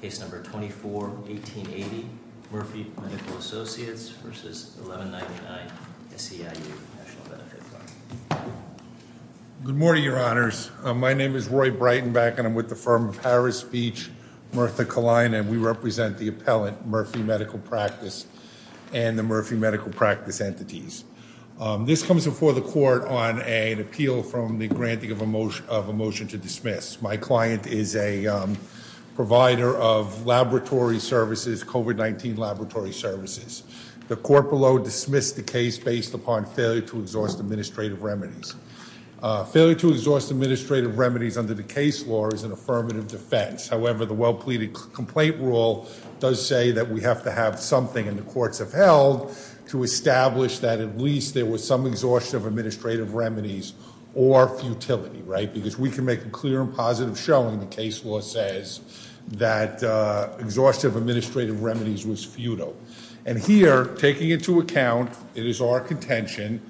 Case No. 24-1880, Murphy Medical Associates v. 1199SEIU National Benefit Fund. Good morning, your honors. My name is Roy Breitenbach and I'm with the firm of Harris Beach, Mirtha Kalina, and we represent the appellant, Murphy Medical Practice and the Murphy Medical Practice entities. This comes before the court on an appeal from the of a motion to dismiss. My client is a provider of laboratory services, COVID-19 laboratory services. The court below dismissed the case based upon failure to exhaust administrative remedies. Failure to exhaust administrative remedies under the case law is an affirmative defense. However, the well-pleaded complaint rule does say that we have to have something, and the courts have held, to establish that at least there was some exhaustion of administrative remedies or futility, right? Because we can make a clear and positive showing the case law says that exhaustive administrative remedies was futile. And here, taking into account, it is our contention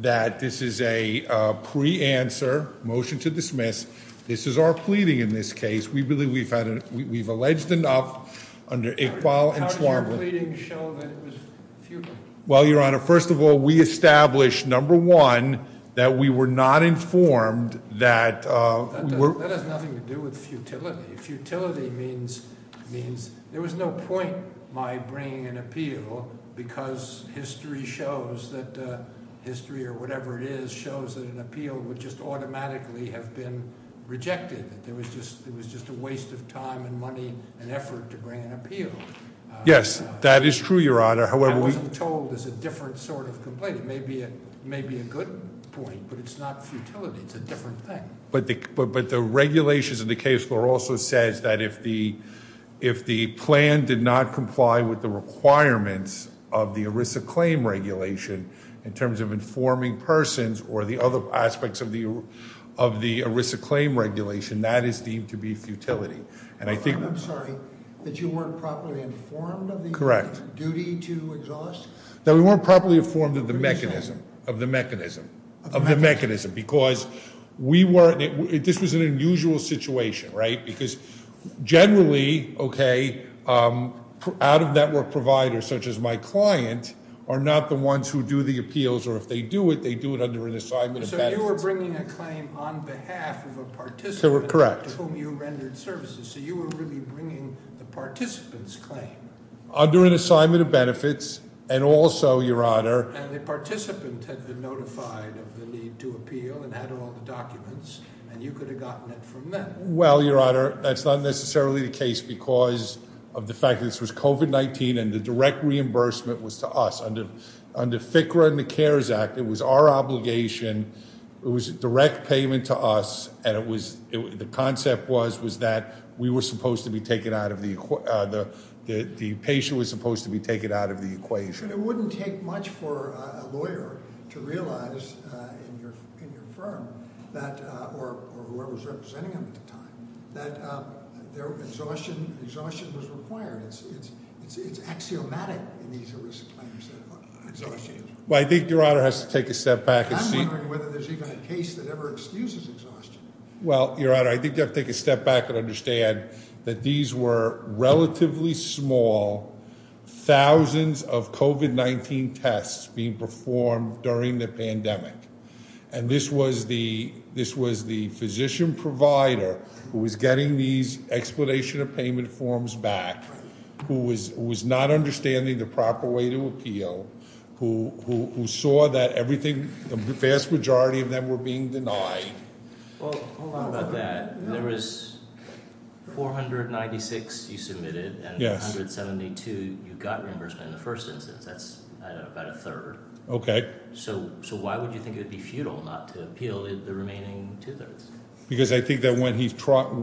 that this is a pre-answer motion to dismiss. This is our pleading in this case. We believe we've had, we've alleged enough under Iqbal and Schwarmberg. How does your pleading show that it was futile? Well, Your Honor, first of all, we established, number one, that we were not informed that- That has nothing to do with futility. Futility means there was no point my bringing an appeal because history shows that, history or whatever it is, shows that an appeal would just automatically have been rejected. That there was just a waste of time and money and effort to bring an appeal. Yes, that is true, Your Honor. However- That wasn't told as a different sort of complaint. It may be a good point, but it's not futility. It's a different thing. But the regulations of the case law also says that if the plan did not comply with the requirements of the ERISA claim regulation, in terms of informing persons or the other aspects of the ERISA claim regulation, that is deemed to be futility. And I think- I'm sorry, that you weren't properly informed of the- Correct. Duty to exhaust? That we weren't properly informed of the mechanism. Of the mechanism. Of the mechanism. Because we weren't, this was an unusual situation, right? Because generally, okay, out-of-network providers such as my client are not the ones who do the appeals or if they do it, they do it under an assignment of benefits. So you were bringing a claim on behalf of a participant- Correct. To whom you rendered services. So you were really bringing the participant's claim. Under an assignment of benefits and also, Your Honor- And the participant had been notified of the need to appeal and had all the documents and you could have gotten it from them. Well, Your Honor, that's not necessarily the case because of the fact this was COVID-19 and the direct reimbursement was to us. Under FCRA and the CARES Act, it was our obligation. It was a direct payment to us and it was- the concept was that we were supposed to be taken out of the- the patient was supposed to be taken out of the equation. It wouldn't take much for a lawyer to realize in your firm that- or whoever was representing them at the time- that their exhaustion- exhaustion was required. It's axiomatic in these claims. Well, I think Your Honor has to take a step back and see- I'm wondering whether there's even a case that ever excuses exhaustion. Well, Your Honor, I think you have to take a step back and understand that these were relatively small thousands of COVID-19 tests being performed during the pandemic and this was the- this was the physician provider who was getting these explanation of payment forms back, who was not understanding the proper way to appeal, who saw that everything- the vast majority of them were being denied. Well, hold on about that. There was 496 you submitted and 172 you got reimbursement in the first instance. That's about a third. Okay. So why would you think it would be futile not to appeal the remaining two-thirds? Because I think that when he's-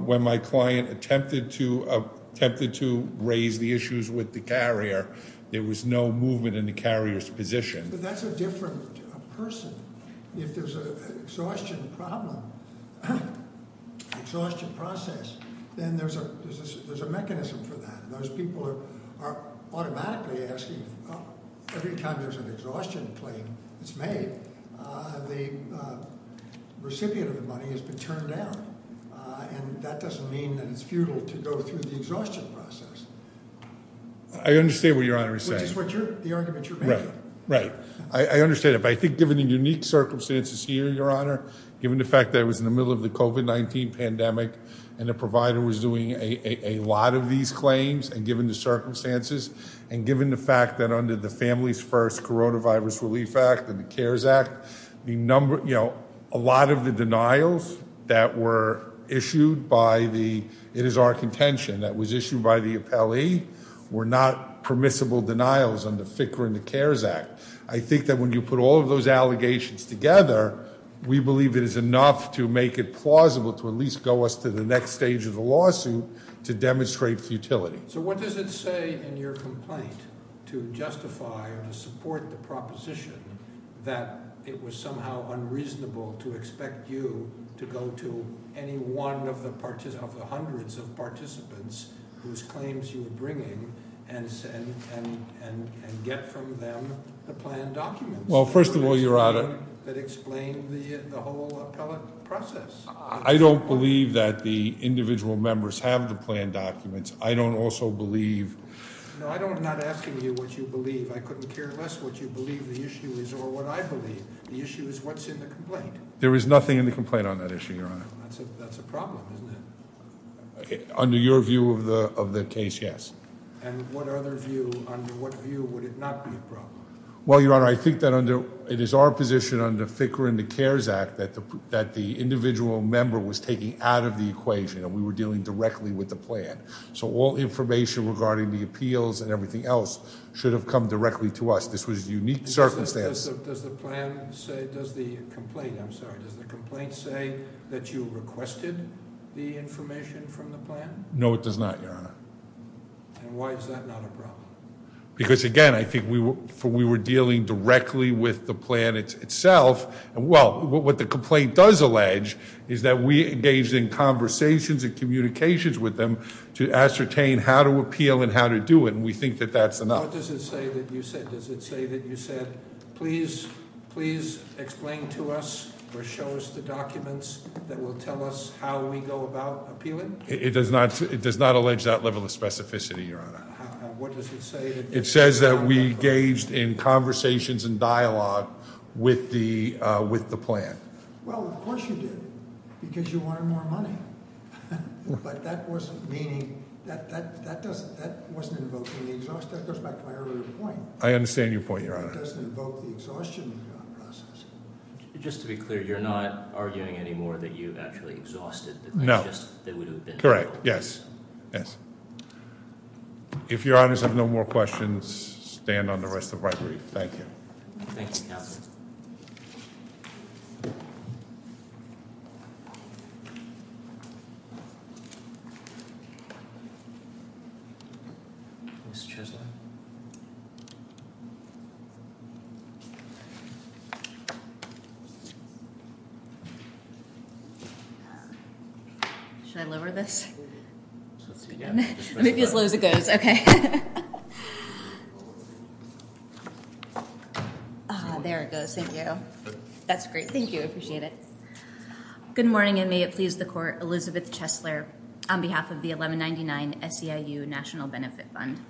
when my client attempted to raise the issues with the carrier, there was no movement in the carrier's position. But that's a different person. If there's an exhaustion problem, an exhaustion process, then there's a- there's a mechanism for that. Those people are automatically asking- every time there's an exhaustion claim that's made, the recipient of the money has been turned down. And that doesn't mean that it's futile to go through the exhaustion process. I understand what Your Honor is saying. Which is what you're- the argument you're making. Right. I understand it. But I think given the unique circumstances here, given the fact that it was in the middle of the COVID-19 pandemic, and the provider was doing a lot of these claims, and given the circumstances, and given the fact that under the Families First Coronavirus Relief Act and the CARES Act, the number- you know, a lot of the denials that were issued by the- it is our contention that was issued by the appellee, were not permissible denials under FCRA and the CARES Act. I think that when you put all of those allegations together, we believe it is enough to make it plausible to at least go us to the next stage of the lawsuit to demonstrate futility. So what does it say in your complaint to justify or to support the proposition that it was somehow unreasonable to expect you to go to any one of the partici- of the hundreds of participants whose claims you were bringing and- and- and- and get from them the planned documents? Well, first of all, Your Honor- That explain the- the whole appellate process. I don't believe that the individual members have the planned documents. I don't also believe- No, I don't- I'm not asking you what you believe. I couldn't care less what you believe the issue is or what I believe. The issue is what's in the complaint. There is nothing in the complaint on that issue, Your Honor. That's a- that's a problem, isn't it? Under your view of the- of the case, yes. And what other view? Under what view would it not be a problem? Well, Your Honor, I think that under- it is our position under FCRA and the CARES Act that the- that the individual member was taking out of the equation and we were dealing directly with the plan. So all information regarding the appeals and everything else should have come directly to us. This was a unique circumstance. Does the plan say- does the complaint- I'm sorry, does the complaint say that you requested the information from the plan? No, it does not, Your Honor. And why is that not a problem? Because, again, I think we were- we were dealing directly with the plan itself. And, well, what the complaint does allege is that we engaged in conversations and communications with them to ascertain how to appeal and how to do it and we think that that's enough. What does it say that you said? Does it say that you said, please- please explain to us or show us the tell us how we go about appealing? It does not- it does not allege that level of specificity, Your Honor. What does it say? It says that we engaged in conversations and dialogue with the- with the plan. Well, of course you did because you wanted more money. But that wasn't meaning- that- that- that doesn't- that wasn't invoking the exhaustion. That goes back to my earlier point. I understand your point, Your Honor. It doesn't invoke the exhaustion. Just to be clear, you're not arguing anymore that you actually exhausted the- No. Correct. Yes. Yes. If Your Honors have no more questions, stand on the rest of the right brief. Thank you. Thank you, Counselor. Should I lower this? Let me be as low as it goes. Okay. There it goes. Thank you. That's great. Thank you. I appreciate it. Good morning and may it please the Court. Elizabeth Chesler on behalf of the 1199 SEIU National Benefit Fund.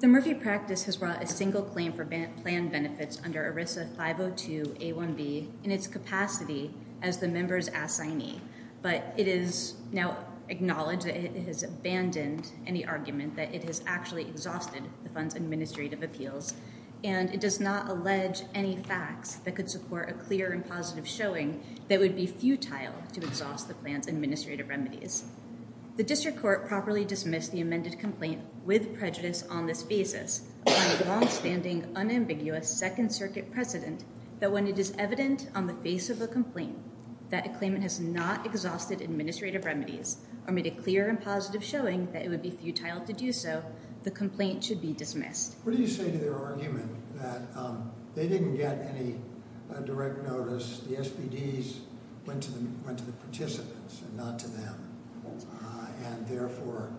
The Murphy practice has brought a single claim for plan benefits under ERISA 502 A1B in its capacity as the member's assignee. But it is now acknowledged that it has abandoned any argument that it has actually exhausted the fund's administrative appeals. And it does not allege any facts that could support a clear and positive showing that would be futile to exhaust the plan's administrative remedies. The District Court properly dismissed the amended complaint with prejudice on this basis upon a longstanding, unambiguous Second Circuit precedent that when it is evident on the face of a complaint that a claimant has not exhausted administrative remedies or made a clear and positive showing that it would be futile to do so, the complaint should be dismissed. What do you say to their argument that they didn't get any direct notice? The SBDs went to the participants and not to them, and therefore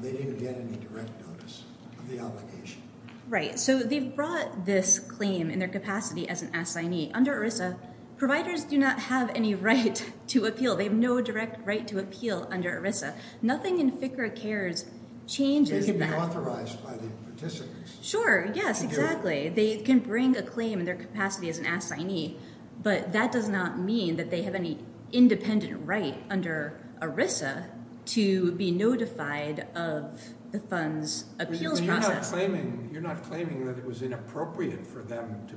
they didn't get any direct notice of the obligation. Right. So they've brought this claim in their capacity as an assignee. Under ERISA, providers do not have any right to appeal. They have no direct right to appeal under ERISA. Nothing in FCRA CARES changes that. It can be authorized by the participants. Sure, yes, exactly. They can bring a claim in their capacity as an assignee, but that does not mean that they have any independent right under ERISA to be notified of the fund's appeals process. You're not claiming that it was inappropriate for them to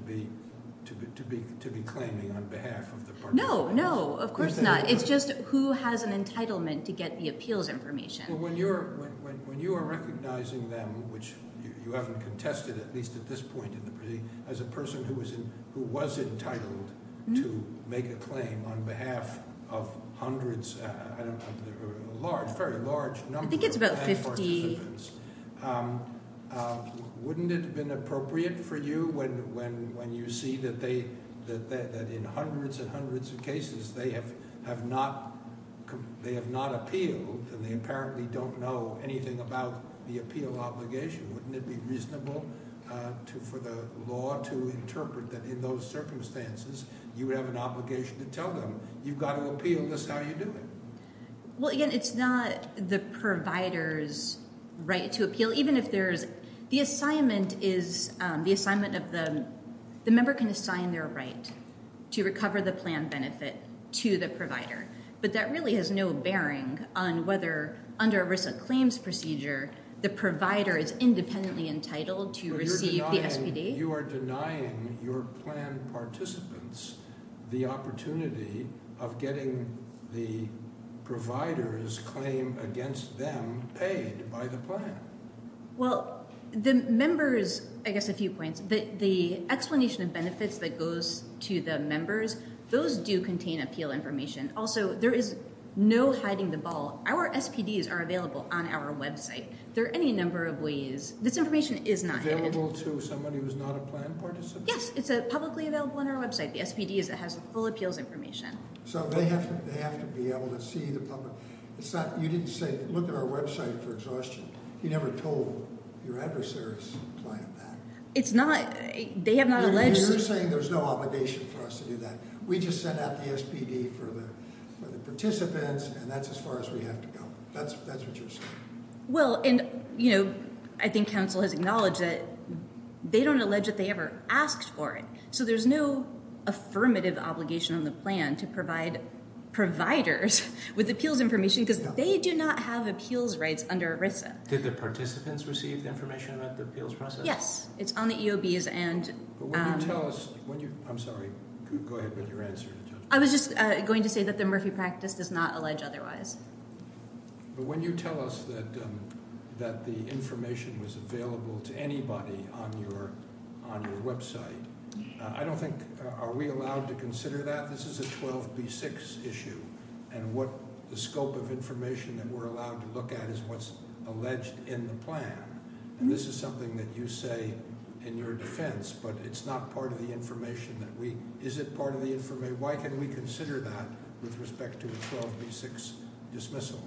be claiming on behalf of the participants? No, no, of course not. It's just who has an entitlement to get the appeals information. When you are recognizing them, which you haven't contested at least at this point in the proceeding, as a person who was entitled to make a claim on behalf of hundreds, a large, very large number of participants, wouldn't it have been appropriate for you when you see that in hundreds and hundreds of cases they have not appealed and they apparently don't know anything about the appeal obligation? Wouldn't it be reasonable for the law to interpret that in those circumstances you would have an obligation to tell them you've got to appeal, this is how you do it? Well, again, it's not the provider's right to appeal. The member can assign their right to recover the plan benefit to the provider, but that really has no bearing on whether under ERISA claims procedure the provider is independently entitled to receive the SPD. You are denying your plan participants the opportunity of getting the providers claim against them paid by the plan. Well, the members, I guess a few points, the explanation of benefits that goes to the members, those do contain appeal information. Also, there is no hiding the ball. Our SPDs are available on our website. There are any number of this information is not available to somebody who's not a plan participant. Yes, it's publicly available on our website. The SPD has the full appeals information. So they have to be able to see the public. You didn't say look at our website for exhaustion. You never told your adversary's client that. It's not. They have not alleged. You're saying there's no obligation for us to do that. We just sent out the SPD for the participants and that's as far as we have to go. That's what you're saying. Well, and, you know, I think counsel has acknowledged that they don't allege that they ever asked for it. So there's no affirmative obligation on the plan to provide providers with appeals information because they do not have appeals rights under ERISA. Did the participants receive information about the appeals process? Yes, it's on the EOBs and when you tell us, I'm sorry, go ahead with your answer. I was just going to say that the but when you tell us that the information was available to anybody on your website, I don't think, are we allowed to consider that? This is a 12b6 issue and what the scope of information that we're allowed to look at is what's alleged in the plan. And this is something that you say in your defense, but it's not part of the information that we, is it part of the why can we consider that with respect to a 12b6 dismissal?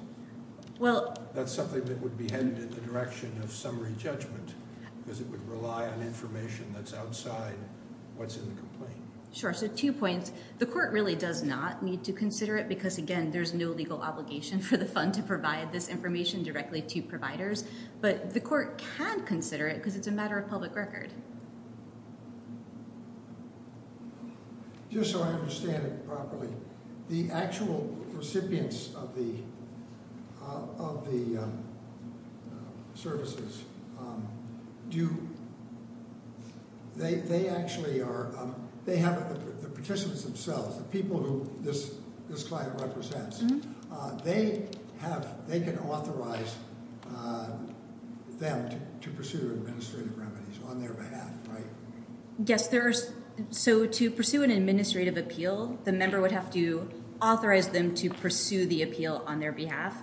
Well, that's something that would be headed in the direction of summary judgment because it would rely on information that's outside what's in the complaint. Sure. So two points. The court really does not need to consider it because again, there's no legal obligation for the fund to provide this information directly to providers, but the court can consider it because it's a matter of public record. Okay. Just so I understand it properly, the actual recipients of the, of the services, do they, they actually are, they have the participants themselves, the people who this, this client represents, they have, they can authorize them to pursue administrative remedies on their behalf, right? Yes. So to pursue an administrative appeal, the member would have to authorize them to pursue the appeal on their behalf.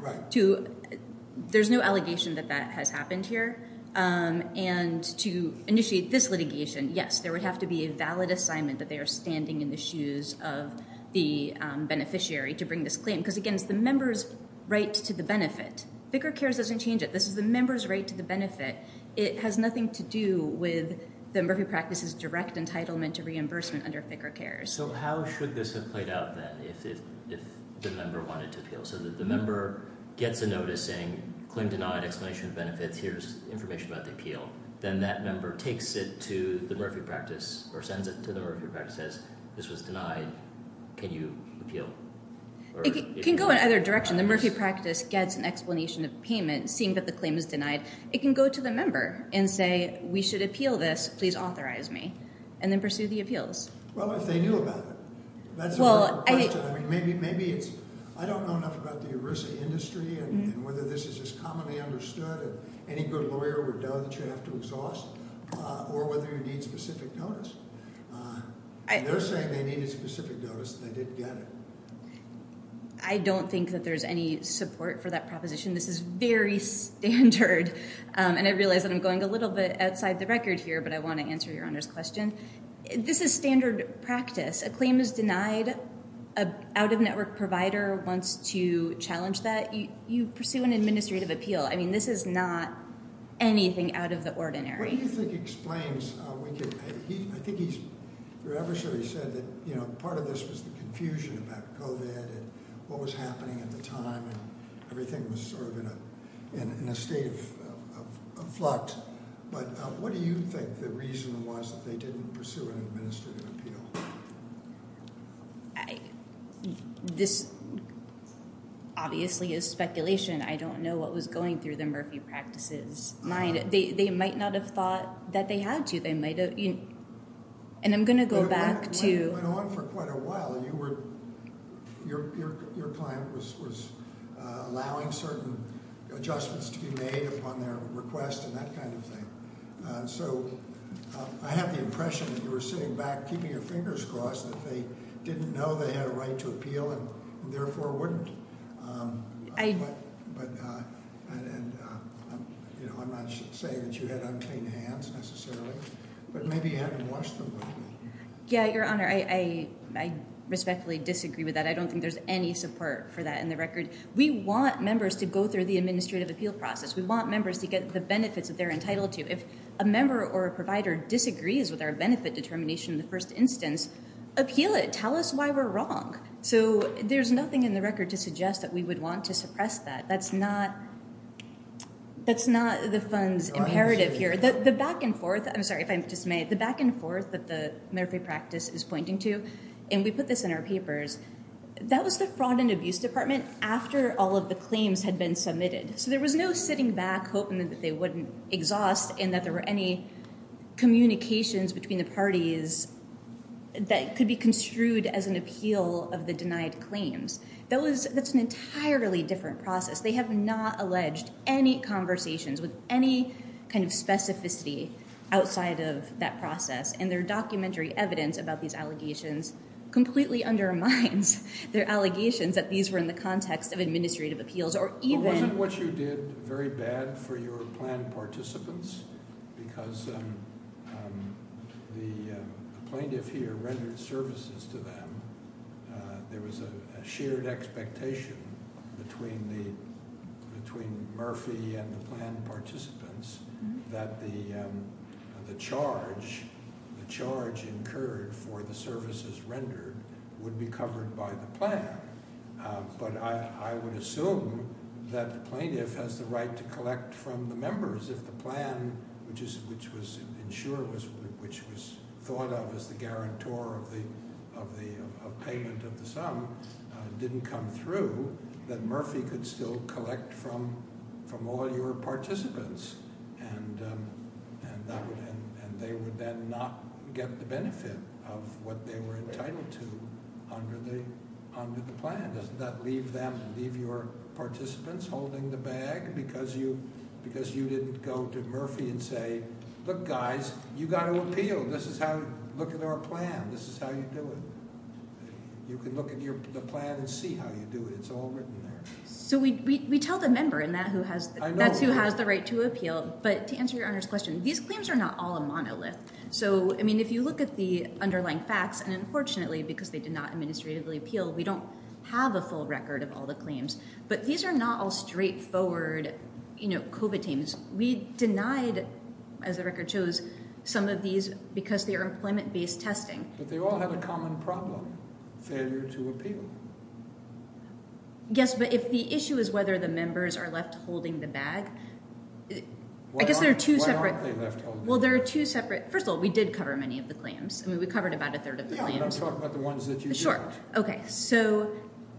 There's no allegation that that has happened here. And to initiate this litigation, yes, there would have to be a valid assignment that they are standing in the shoes of the beneficiary to bring this claim. Because again, it's the member's right to the benefit. Vicar Cares doesn't change it. This is the member's right to the benefit. It has nothing to do with the Murphy practice's direct entitlement to reimbursement under Vicar Cares. So how should this have played out then if, if, if the member wanted to appeal? So that the member gets a notice saying claim denied, explanation of benefits, here's information about the appeal. Then that member takes it to the Murphy practice or sends it to the Murphy practice, says this was denied. Can you appeal? It can go in either direction. The Murphy practice gets an explanation of payment seeing that the claim is denied. It can go to the member and say, we should appeal this. Please authorize me and then pursue the appeals. Well, if they knew about it, that's a good question. I mean, maybe, maybe it's, I don't know enough about the ERISA industry and whether this is just commonly understood and any good lawyer would know that you have to exhaust or whether you need specific notice. They're saying they need a specific notice that they didn't get it. I don't think that there's any support for that proposition. This is very standard. Um, and I realized that I'm going a little bit outside the record here, but I want to answer your Honor's question. This is standard practice. A claim is denied. Uh, out of network provider wants to challenge that you, you pursue an administrative appeal. I mean, this is not anything out of the ordinary. What do you think explains, uh, I think he's, you're ever sure he said that, you know, part of this was the confusion about COVID and what was happening at the time and everything was sort of in a, in a state of flux. But what do you think the reason was that they didn't pursue an administrative appeal? This obviously is speculation. I don't know what was going through the Murphy practices mind. They, they might not have thought that they had to, they might've, and I'm going to go back to quite a while. You were, your, your, your client was, was, uh, allowing certain adjustments to be made upon their request and that kind of thing. So I have the impression that you were sitting back, keeping your fingers crossed that they didn't know they had a right to appeal and therefore wouldn't. Um, but, but, uh, and, you know, I'm not saying that you had unclean hands necessarily, but maybe you hadn't washed them. Yeah. Your honor. I, I, I respectfully disagree with that. I don't think there's any support for that in the record. We want members to go through the administrative appeal process. We want members to get the benefits that they're entitled to. If a member or a provider disagrees with our benefit determination in the first instance, appeal it, tell us why we're wrong. So there's nothing in the record to suggest that we would want to suppress that. That's not, that's not the funds imperative here. The, the back and forth, I'm sorry if I'm dismayed, the back and forth that the Murphy practice is pointing to, and we put this in our papers, that was the fraud and abuse department after all of the claims had been submitted. So there was no sitting back hoping that they wouldn't exhaust and that there were any communications between the parties that could be construed as an appeal of the denied claims. That was, that's an entirely different process. They have not alleged any conversations with any kind of specificity outside of that process. And their documentary evidence about these allegations completely undermines their allegations that these were in the context of administrative appeals or even... But wasn't what you did very bad for your planned participants? Because the plaintiff here rendered services to them. There was a shared expectation between the, between Murphy and the planned participants that the, the charge, the charge incurred for the services rendered would be covered by the plan. But I, I would assume that the plaintiff has the right to collect from the members if the plan, which is, which was insured, which was thought of as the guarantor of the, of the payment of the sum, didn't come through, that Murphy could still collect from, from all your participants. And, and that would end, and they would then not get the benefit of what they were entitled to under the, under the plan. Doesn't that leave them, leave your participants holding the bag because you, because you didn't go to Murphy and say, look guys, you got to appeal. This is how, look at our plan. This is how you do it. You can look at your, the plan and see how you do it. It's all written there. So we, we, we tell the member and that who has, that's who has the right to appeal. But to answer your Honor's question, these claims are not all a monolith. So, I mean, if you look at the underlying facts, and unfortunately, because they did not administratively appeal, we don't have a full record of all the claims, but these are not all straightforward, you know, COVID claims. We denied, as the record shows, some of these because they are employment-based testing. But they all have a common problem, failure to appeal. Yes, but if the issue is whether the members are left holding the bag, I guess there are two separate... Why aren't they left holding the bag? Well, there are two separate, first of all, we did cover many of the claims. I mean, we covered about a third of the claims. Yeah, but I'm talking about the ones that you talked about. Okay, so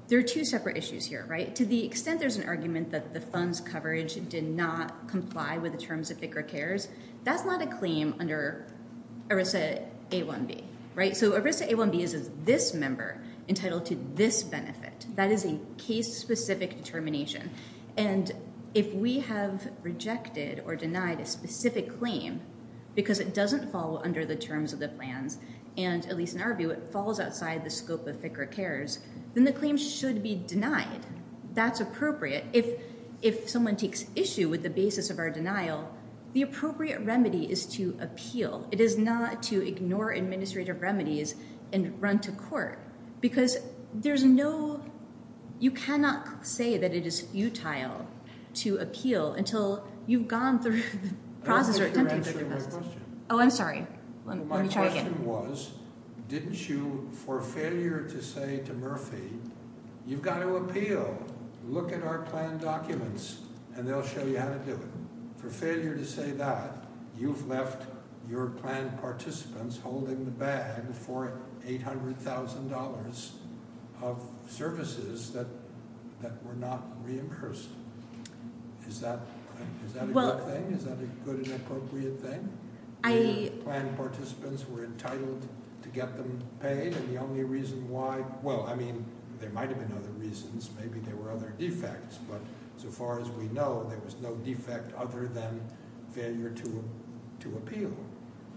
there are two separate issues here, right? To the extent there's an argument that the funds coverage did not comply with the terms of FCRA CARES, that's not a claim under ERISA A1B, right? So ERISA A1B is this member entitled to this benefit. That is a case-specific determination. And if we have rejected or denied a specific claim because it doesn't follow under the terms of the plans, and at least in our view, it falls outside the scope of FCRA CARES, then the claim should be denied. That's appropriate. If someone takes issue with the basis of our denial, the appropriate remedy is to appeal. It is not to ignore administrative remedies and run to court. Because there's no... You cannot say that it is futile to appeal until you've gone through the process or attempted to go through the process. Oh, I'm sorry. Let me try again. My question was, didn't you, for failure to say to Murphy, you've got to appeal, look at our plan documents, and they'll show you how to do it. For failure to say that, you've left your plan participants holding the bag for $800,000 of services that were not reimbursed. Is that a good thing? Is that a good and appropriate thing? Plan participants were entitled to get them paid, and the only reason why... Well, I mean, there might have been other reasons. Maybe there were other defects. But so far as we know, there was no defect other than failure to appeal.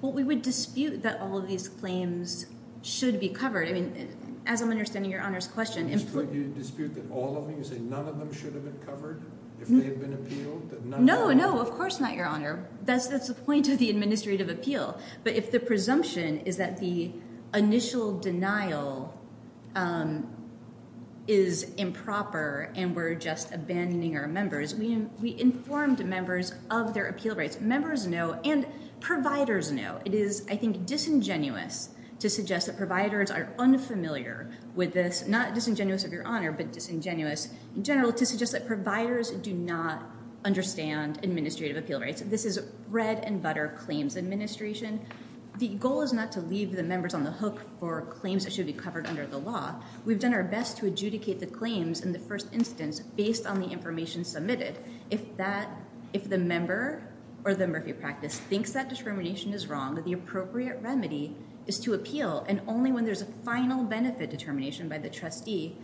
Well, we would dispute that all of these claims should be covered. I mean, as I'm understanding Your Honor's question... You dispute that all of them? You say none of them should have been covered if they had been appealed? No, no, of course not, Your Honor. That's the point of the administrative appeal. But if the presumption is that the initial denial is improper and we're just abandoning our members, we informed members of their appeal rights. Members know and providers know. It is, I think, disingenuous to suggest that providers are unfamiliar with this. Not disingenuous, Your Honor, but disingenuous in general to suggest that providers do not understand administrative appeal rights. This is bread-and-butter claims administration. The goal is not to leave the members on the hook for claims that should be covered under the law. We've done our best to adjudicate the claims in the first instance based on the information submitted. If the member or the Murphy practice thinks that discrimination is wrong, the appropriate remedy is to appeal. And only when there's a final benefit determination by the trustee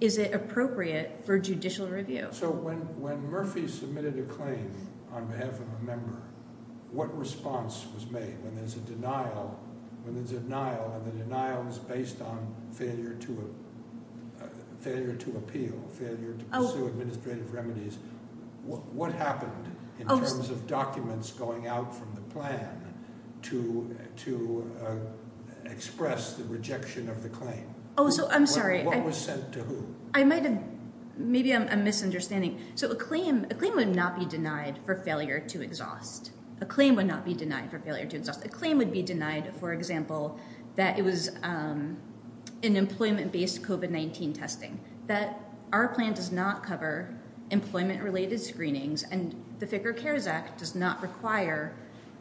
is it appropriate for judicial review. So when Murphy submitted a claim on behalf of a member, what response was made when there's a denial and the denial is based on failure to appeal, failure to pursue administrative remedies? What happened in terms of documents going out from the to express the rejection of the claim? Oh, so I'm sorry. What was sent to who? I might have, maybe I'm misunderstanding. So a claim would not be denied for failure to exhaust. A claim would not be denied for failure to exhaust. A claim would be denied, for example, that it was an employment-based COVID-19 testing. That our plan does not cover employment-related screenings and the Ficker CARES Act does not require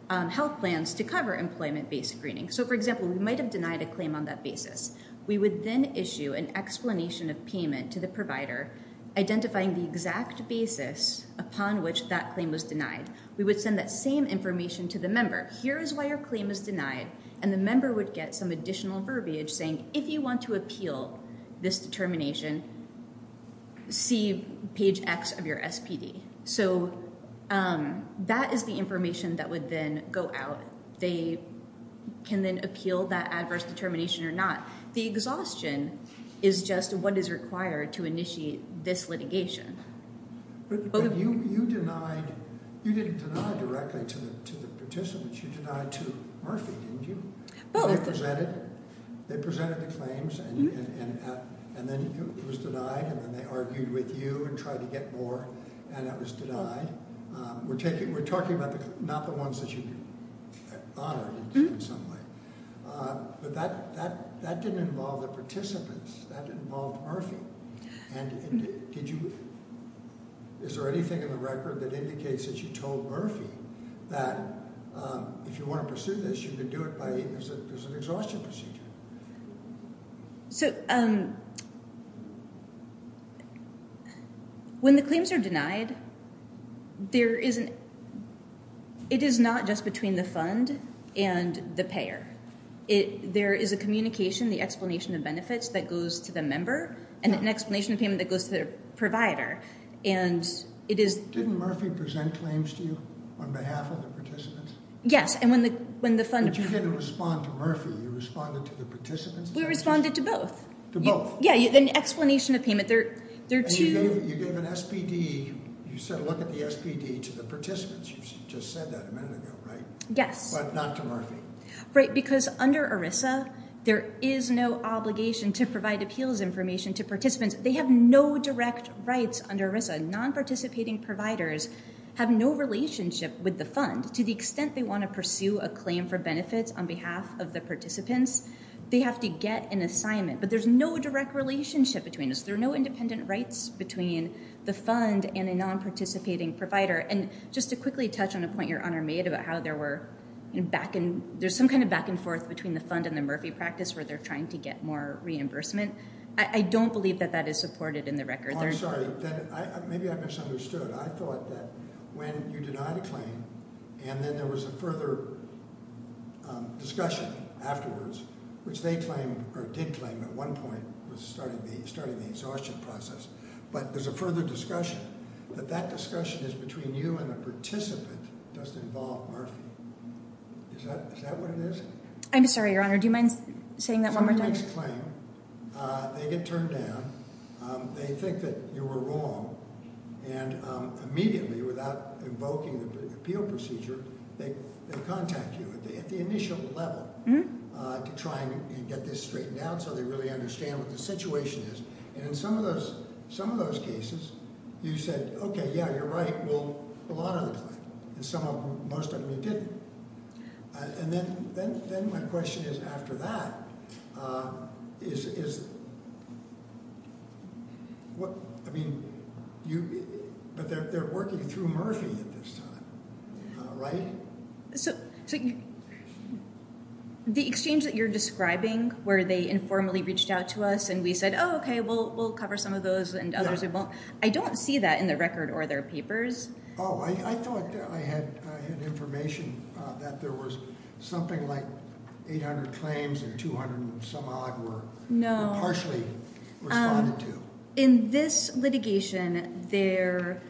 health plans to cover employment-based screening. So for example, we might've denied a claim on that basis. We would then issue an explanation of payment to the provider, identifying the exact basis upon which that claim was denied. We would send that same information to the member. Here is why your claim is denied. And the member would get some additional verbiage saying, if you want to appeal this determination, see page X of your SPD. So that is the information that would then go out. They can then appeal that adverse determination or not. The exhaustion is just what is required to initiate this litigation. But you denied, you didn't deny directly to the participants, you denied to Murphy, didn't you? They presented the claims and then it was denied and then they argued with you and tried to get more and it was denied. We're talking about not the ones that you honored in some way, but that didn't involve the participants. That involved Murphy. And is there anything in the record that indicates that you told Murphy that if you want to pursue this, you can do it by exhaustion procedure? So when the claims are denied, it is not just between the fund and the payer. There is a communication, the explanation of benefits that goes to the member and an explanation of payment that goes to their provider. And it is... Didn't Murphy present claims to you on behalf of the participants? Yes, and when the fund... But you didn't respond to Murphy, you responded to the participants? We responded to both. To both? Yeah, an explanation of payment. You gave an SPD, you said look at the SPD to the participants. You just said that a minute ago, right? Yes. But not to Murphy. Right, because under ERISA, there is no obligation to provide appeals information to participants. They have no direct rights under ERISA. Non-participating providers have no relationship with the fund to the extent they want to pursue a claim for benefits on behalf of the participants. They have to get an assignment, but there's no direct relationship between us. There are no independent rights between the fund and a non-participating provider. And just to quickly touch on a point your honor made about how there were... There's some kind of back and forth between the fund and the Murphy practice where they're trying to get more reimbursement. I don't believe that that is supported in the record. Oh, I'm sorry. Maybe I misunderstood. I thought that when you denied a claim and then there was a further discussion afterwards, which they claimed or did claim at one point was starting the exhaustion process, but there's a further discussion that that discussion is between you and a participant doesn't involve Murphy. Is that what it is? I'm sorry, your honor. Do you mind saying that claim? They get turned down. They think that you were wrong. And immediately without invoking the appeal procedure, they contact you at the initial level to try and get this straightened out so they really understand what the situation is. And in some of those cases, you said, okay, yeah, you're right. Well, a lot of the time, and some of them, most of them, you didn't. And then my question is after that, is what, I mean, you, but they're working through Murphy at this time, right? So the exchange that you're describing where they informally reached out to us and we said, oh, okay, we'll cover some of those and others we won't. I don't see that in the record or their papers. Oh, I thought I had, I had information that there was something like 800 claims and 200 and some odd were partially responded to. In this litigation there,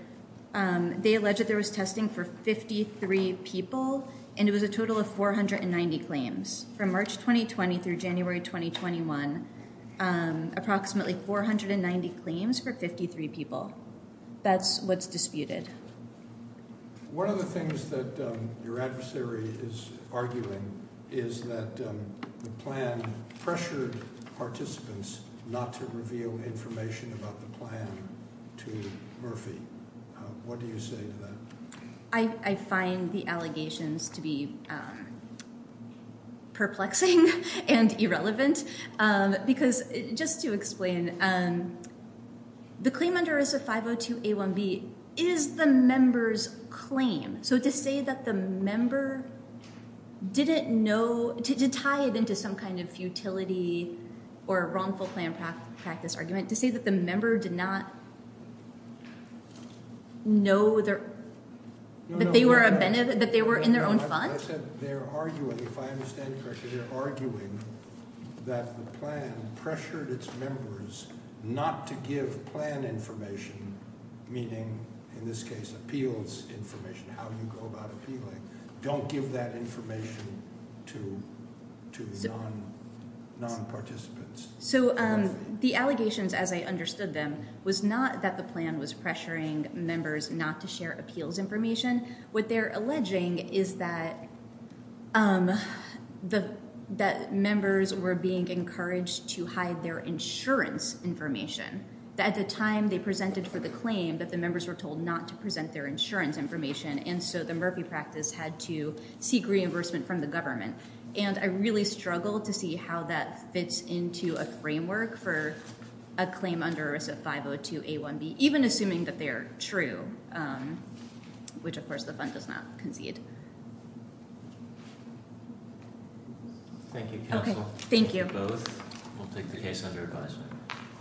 they alleged that there was testing for 53 people and it was a total of 490 claims from March 2020 through January 2021. Approximately 490 claims for 53 people. That's what's disputed. One of the things that your adversary is arguing is that the plan pressured participants not to reveal information about the plan to Murphy. What do you say to that? I find the allegations to be perplexing and irrelevant because, just to explain, the claim under ERISA 502A1B is the member's claim. So to say that the member didn't know, to tie it into some kind of futility or wrongful plan practice argument, to say that the member did not know that they were in their own fund? I said they're arguing, if I understand correctly, they're arguing that the plan pressured its members not to give plan information, meaning in this case appeals information, how you go about appealing. Don't give that information to the non-participants. So the allegations, as I understood them, was not that the plan was pressuring members not to share appeals information. What they're alleging is that members were being encouraged to hide their insurance information. At the time they presented for the claim that the members were told not to present their insurance information and so the Murphy practice had to seek reimbursement from the government. And I really struggle to see how that fits into a framework for a claim under ERISA 502A1B, even assuming that they are true, which of course the fund does not concede. Thank you counsel. Thank you. We'll take the case under advisement.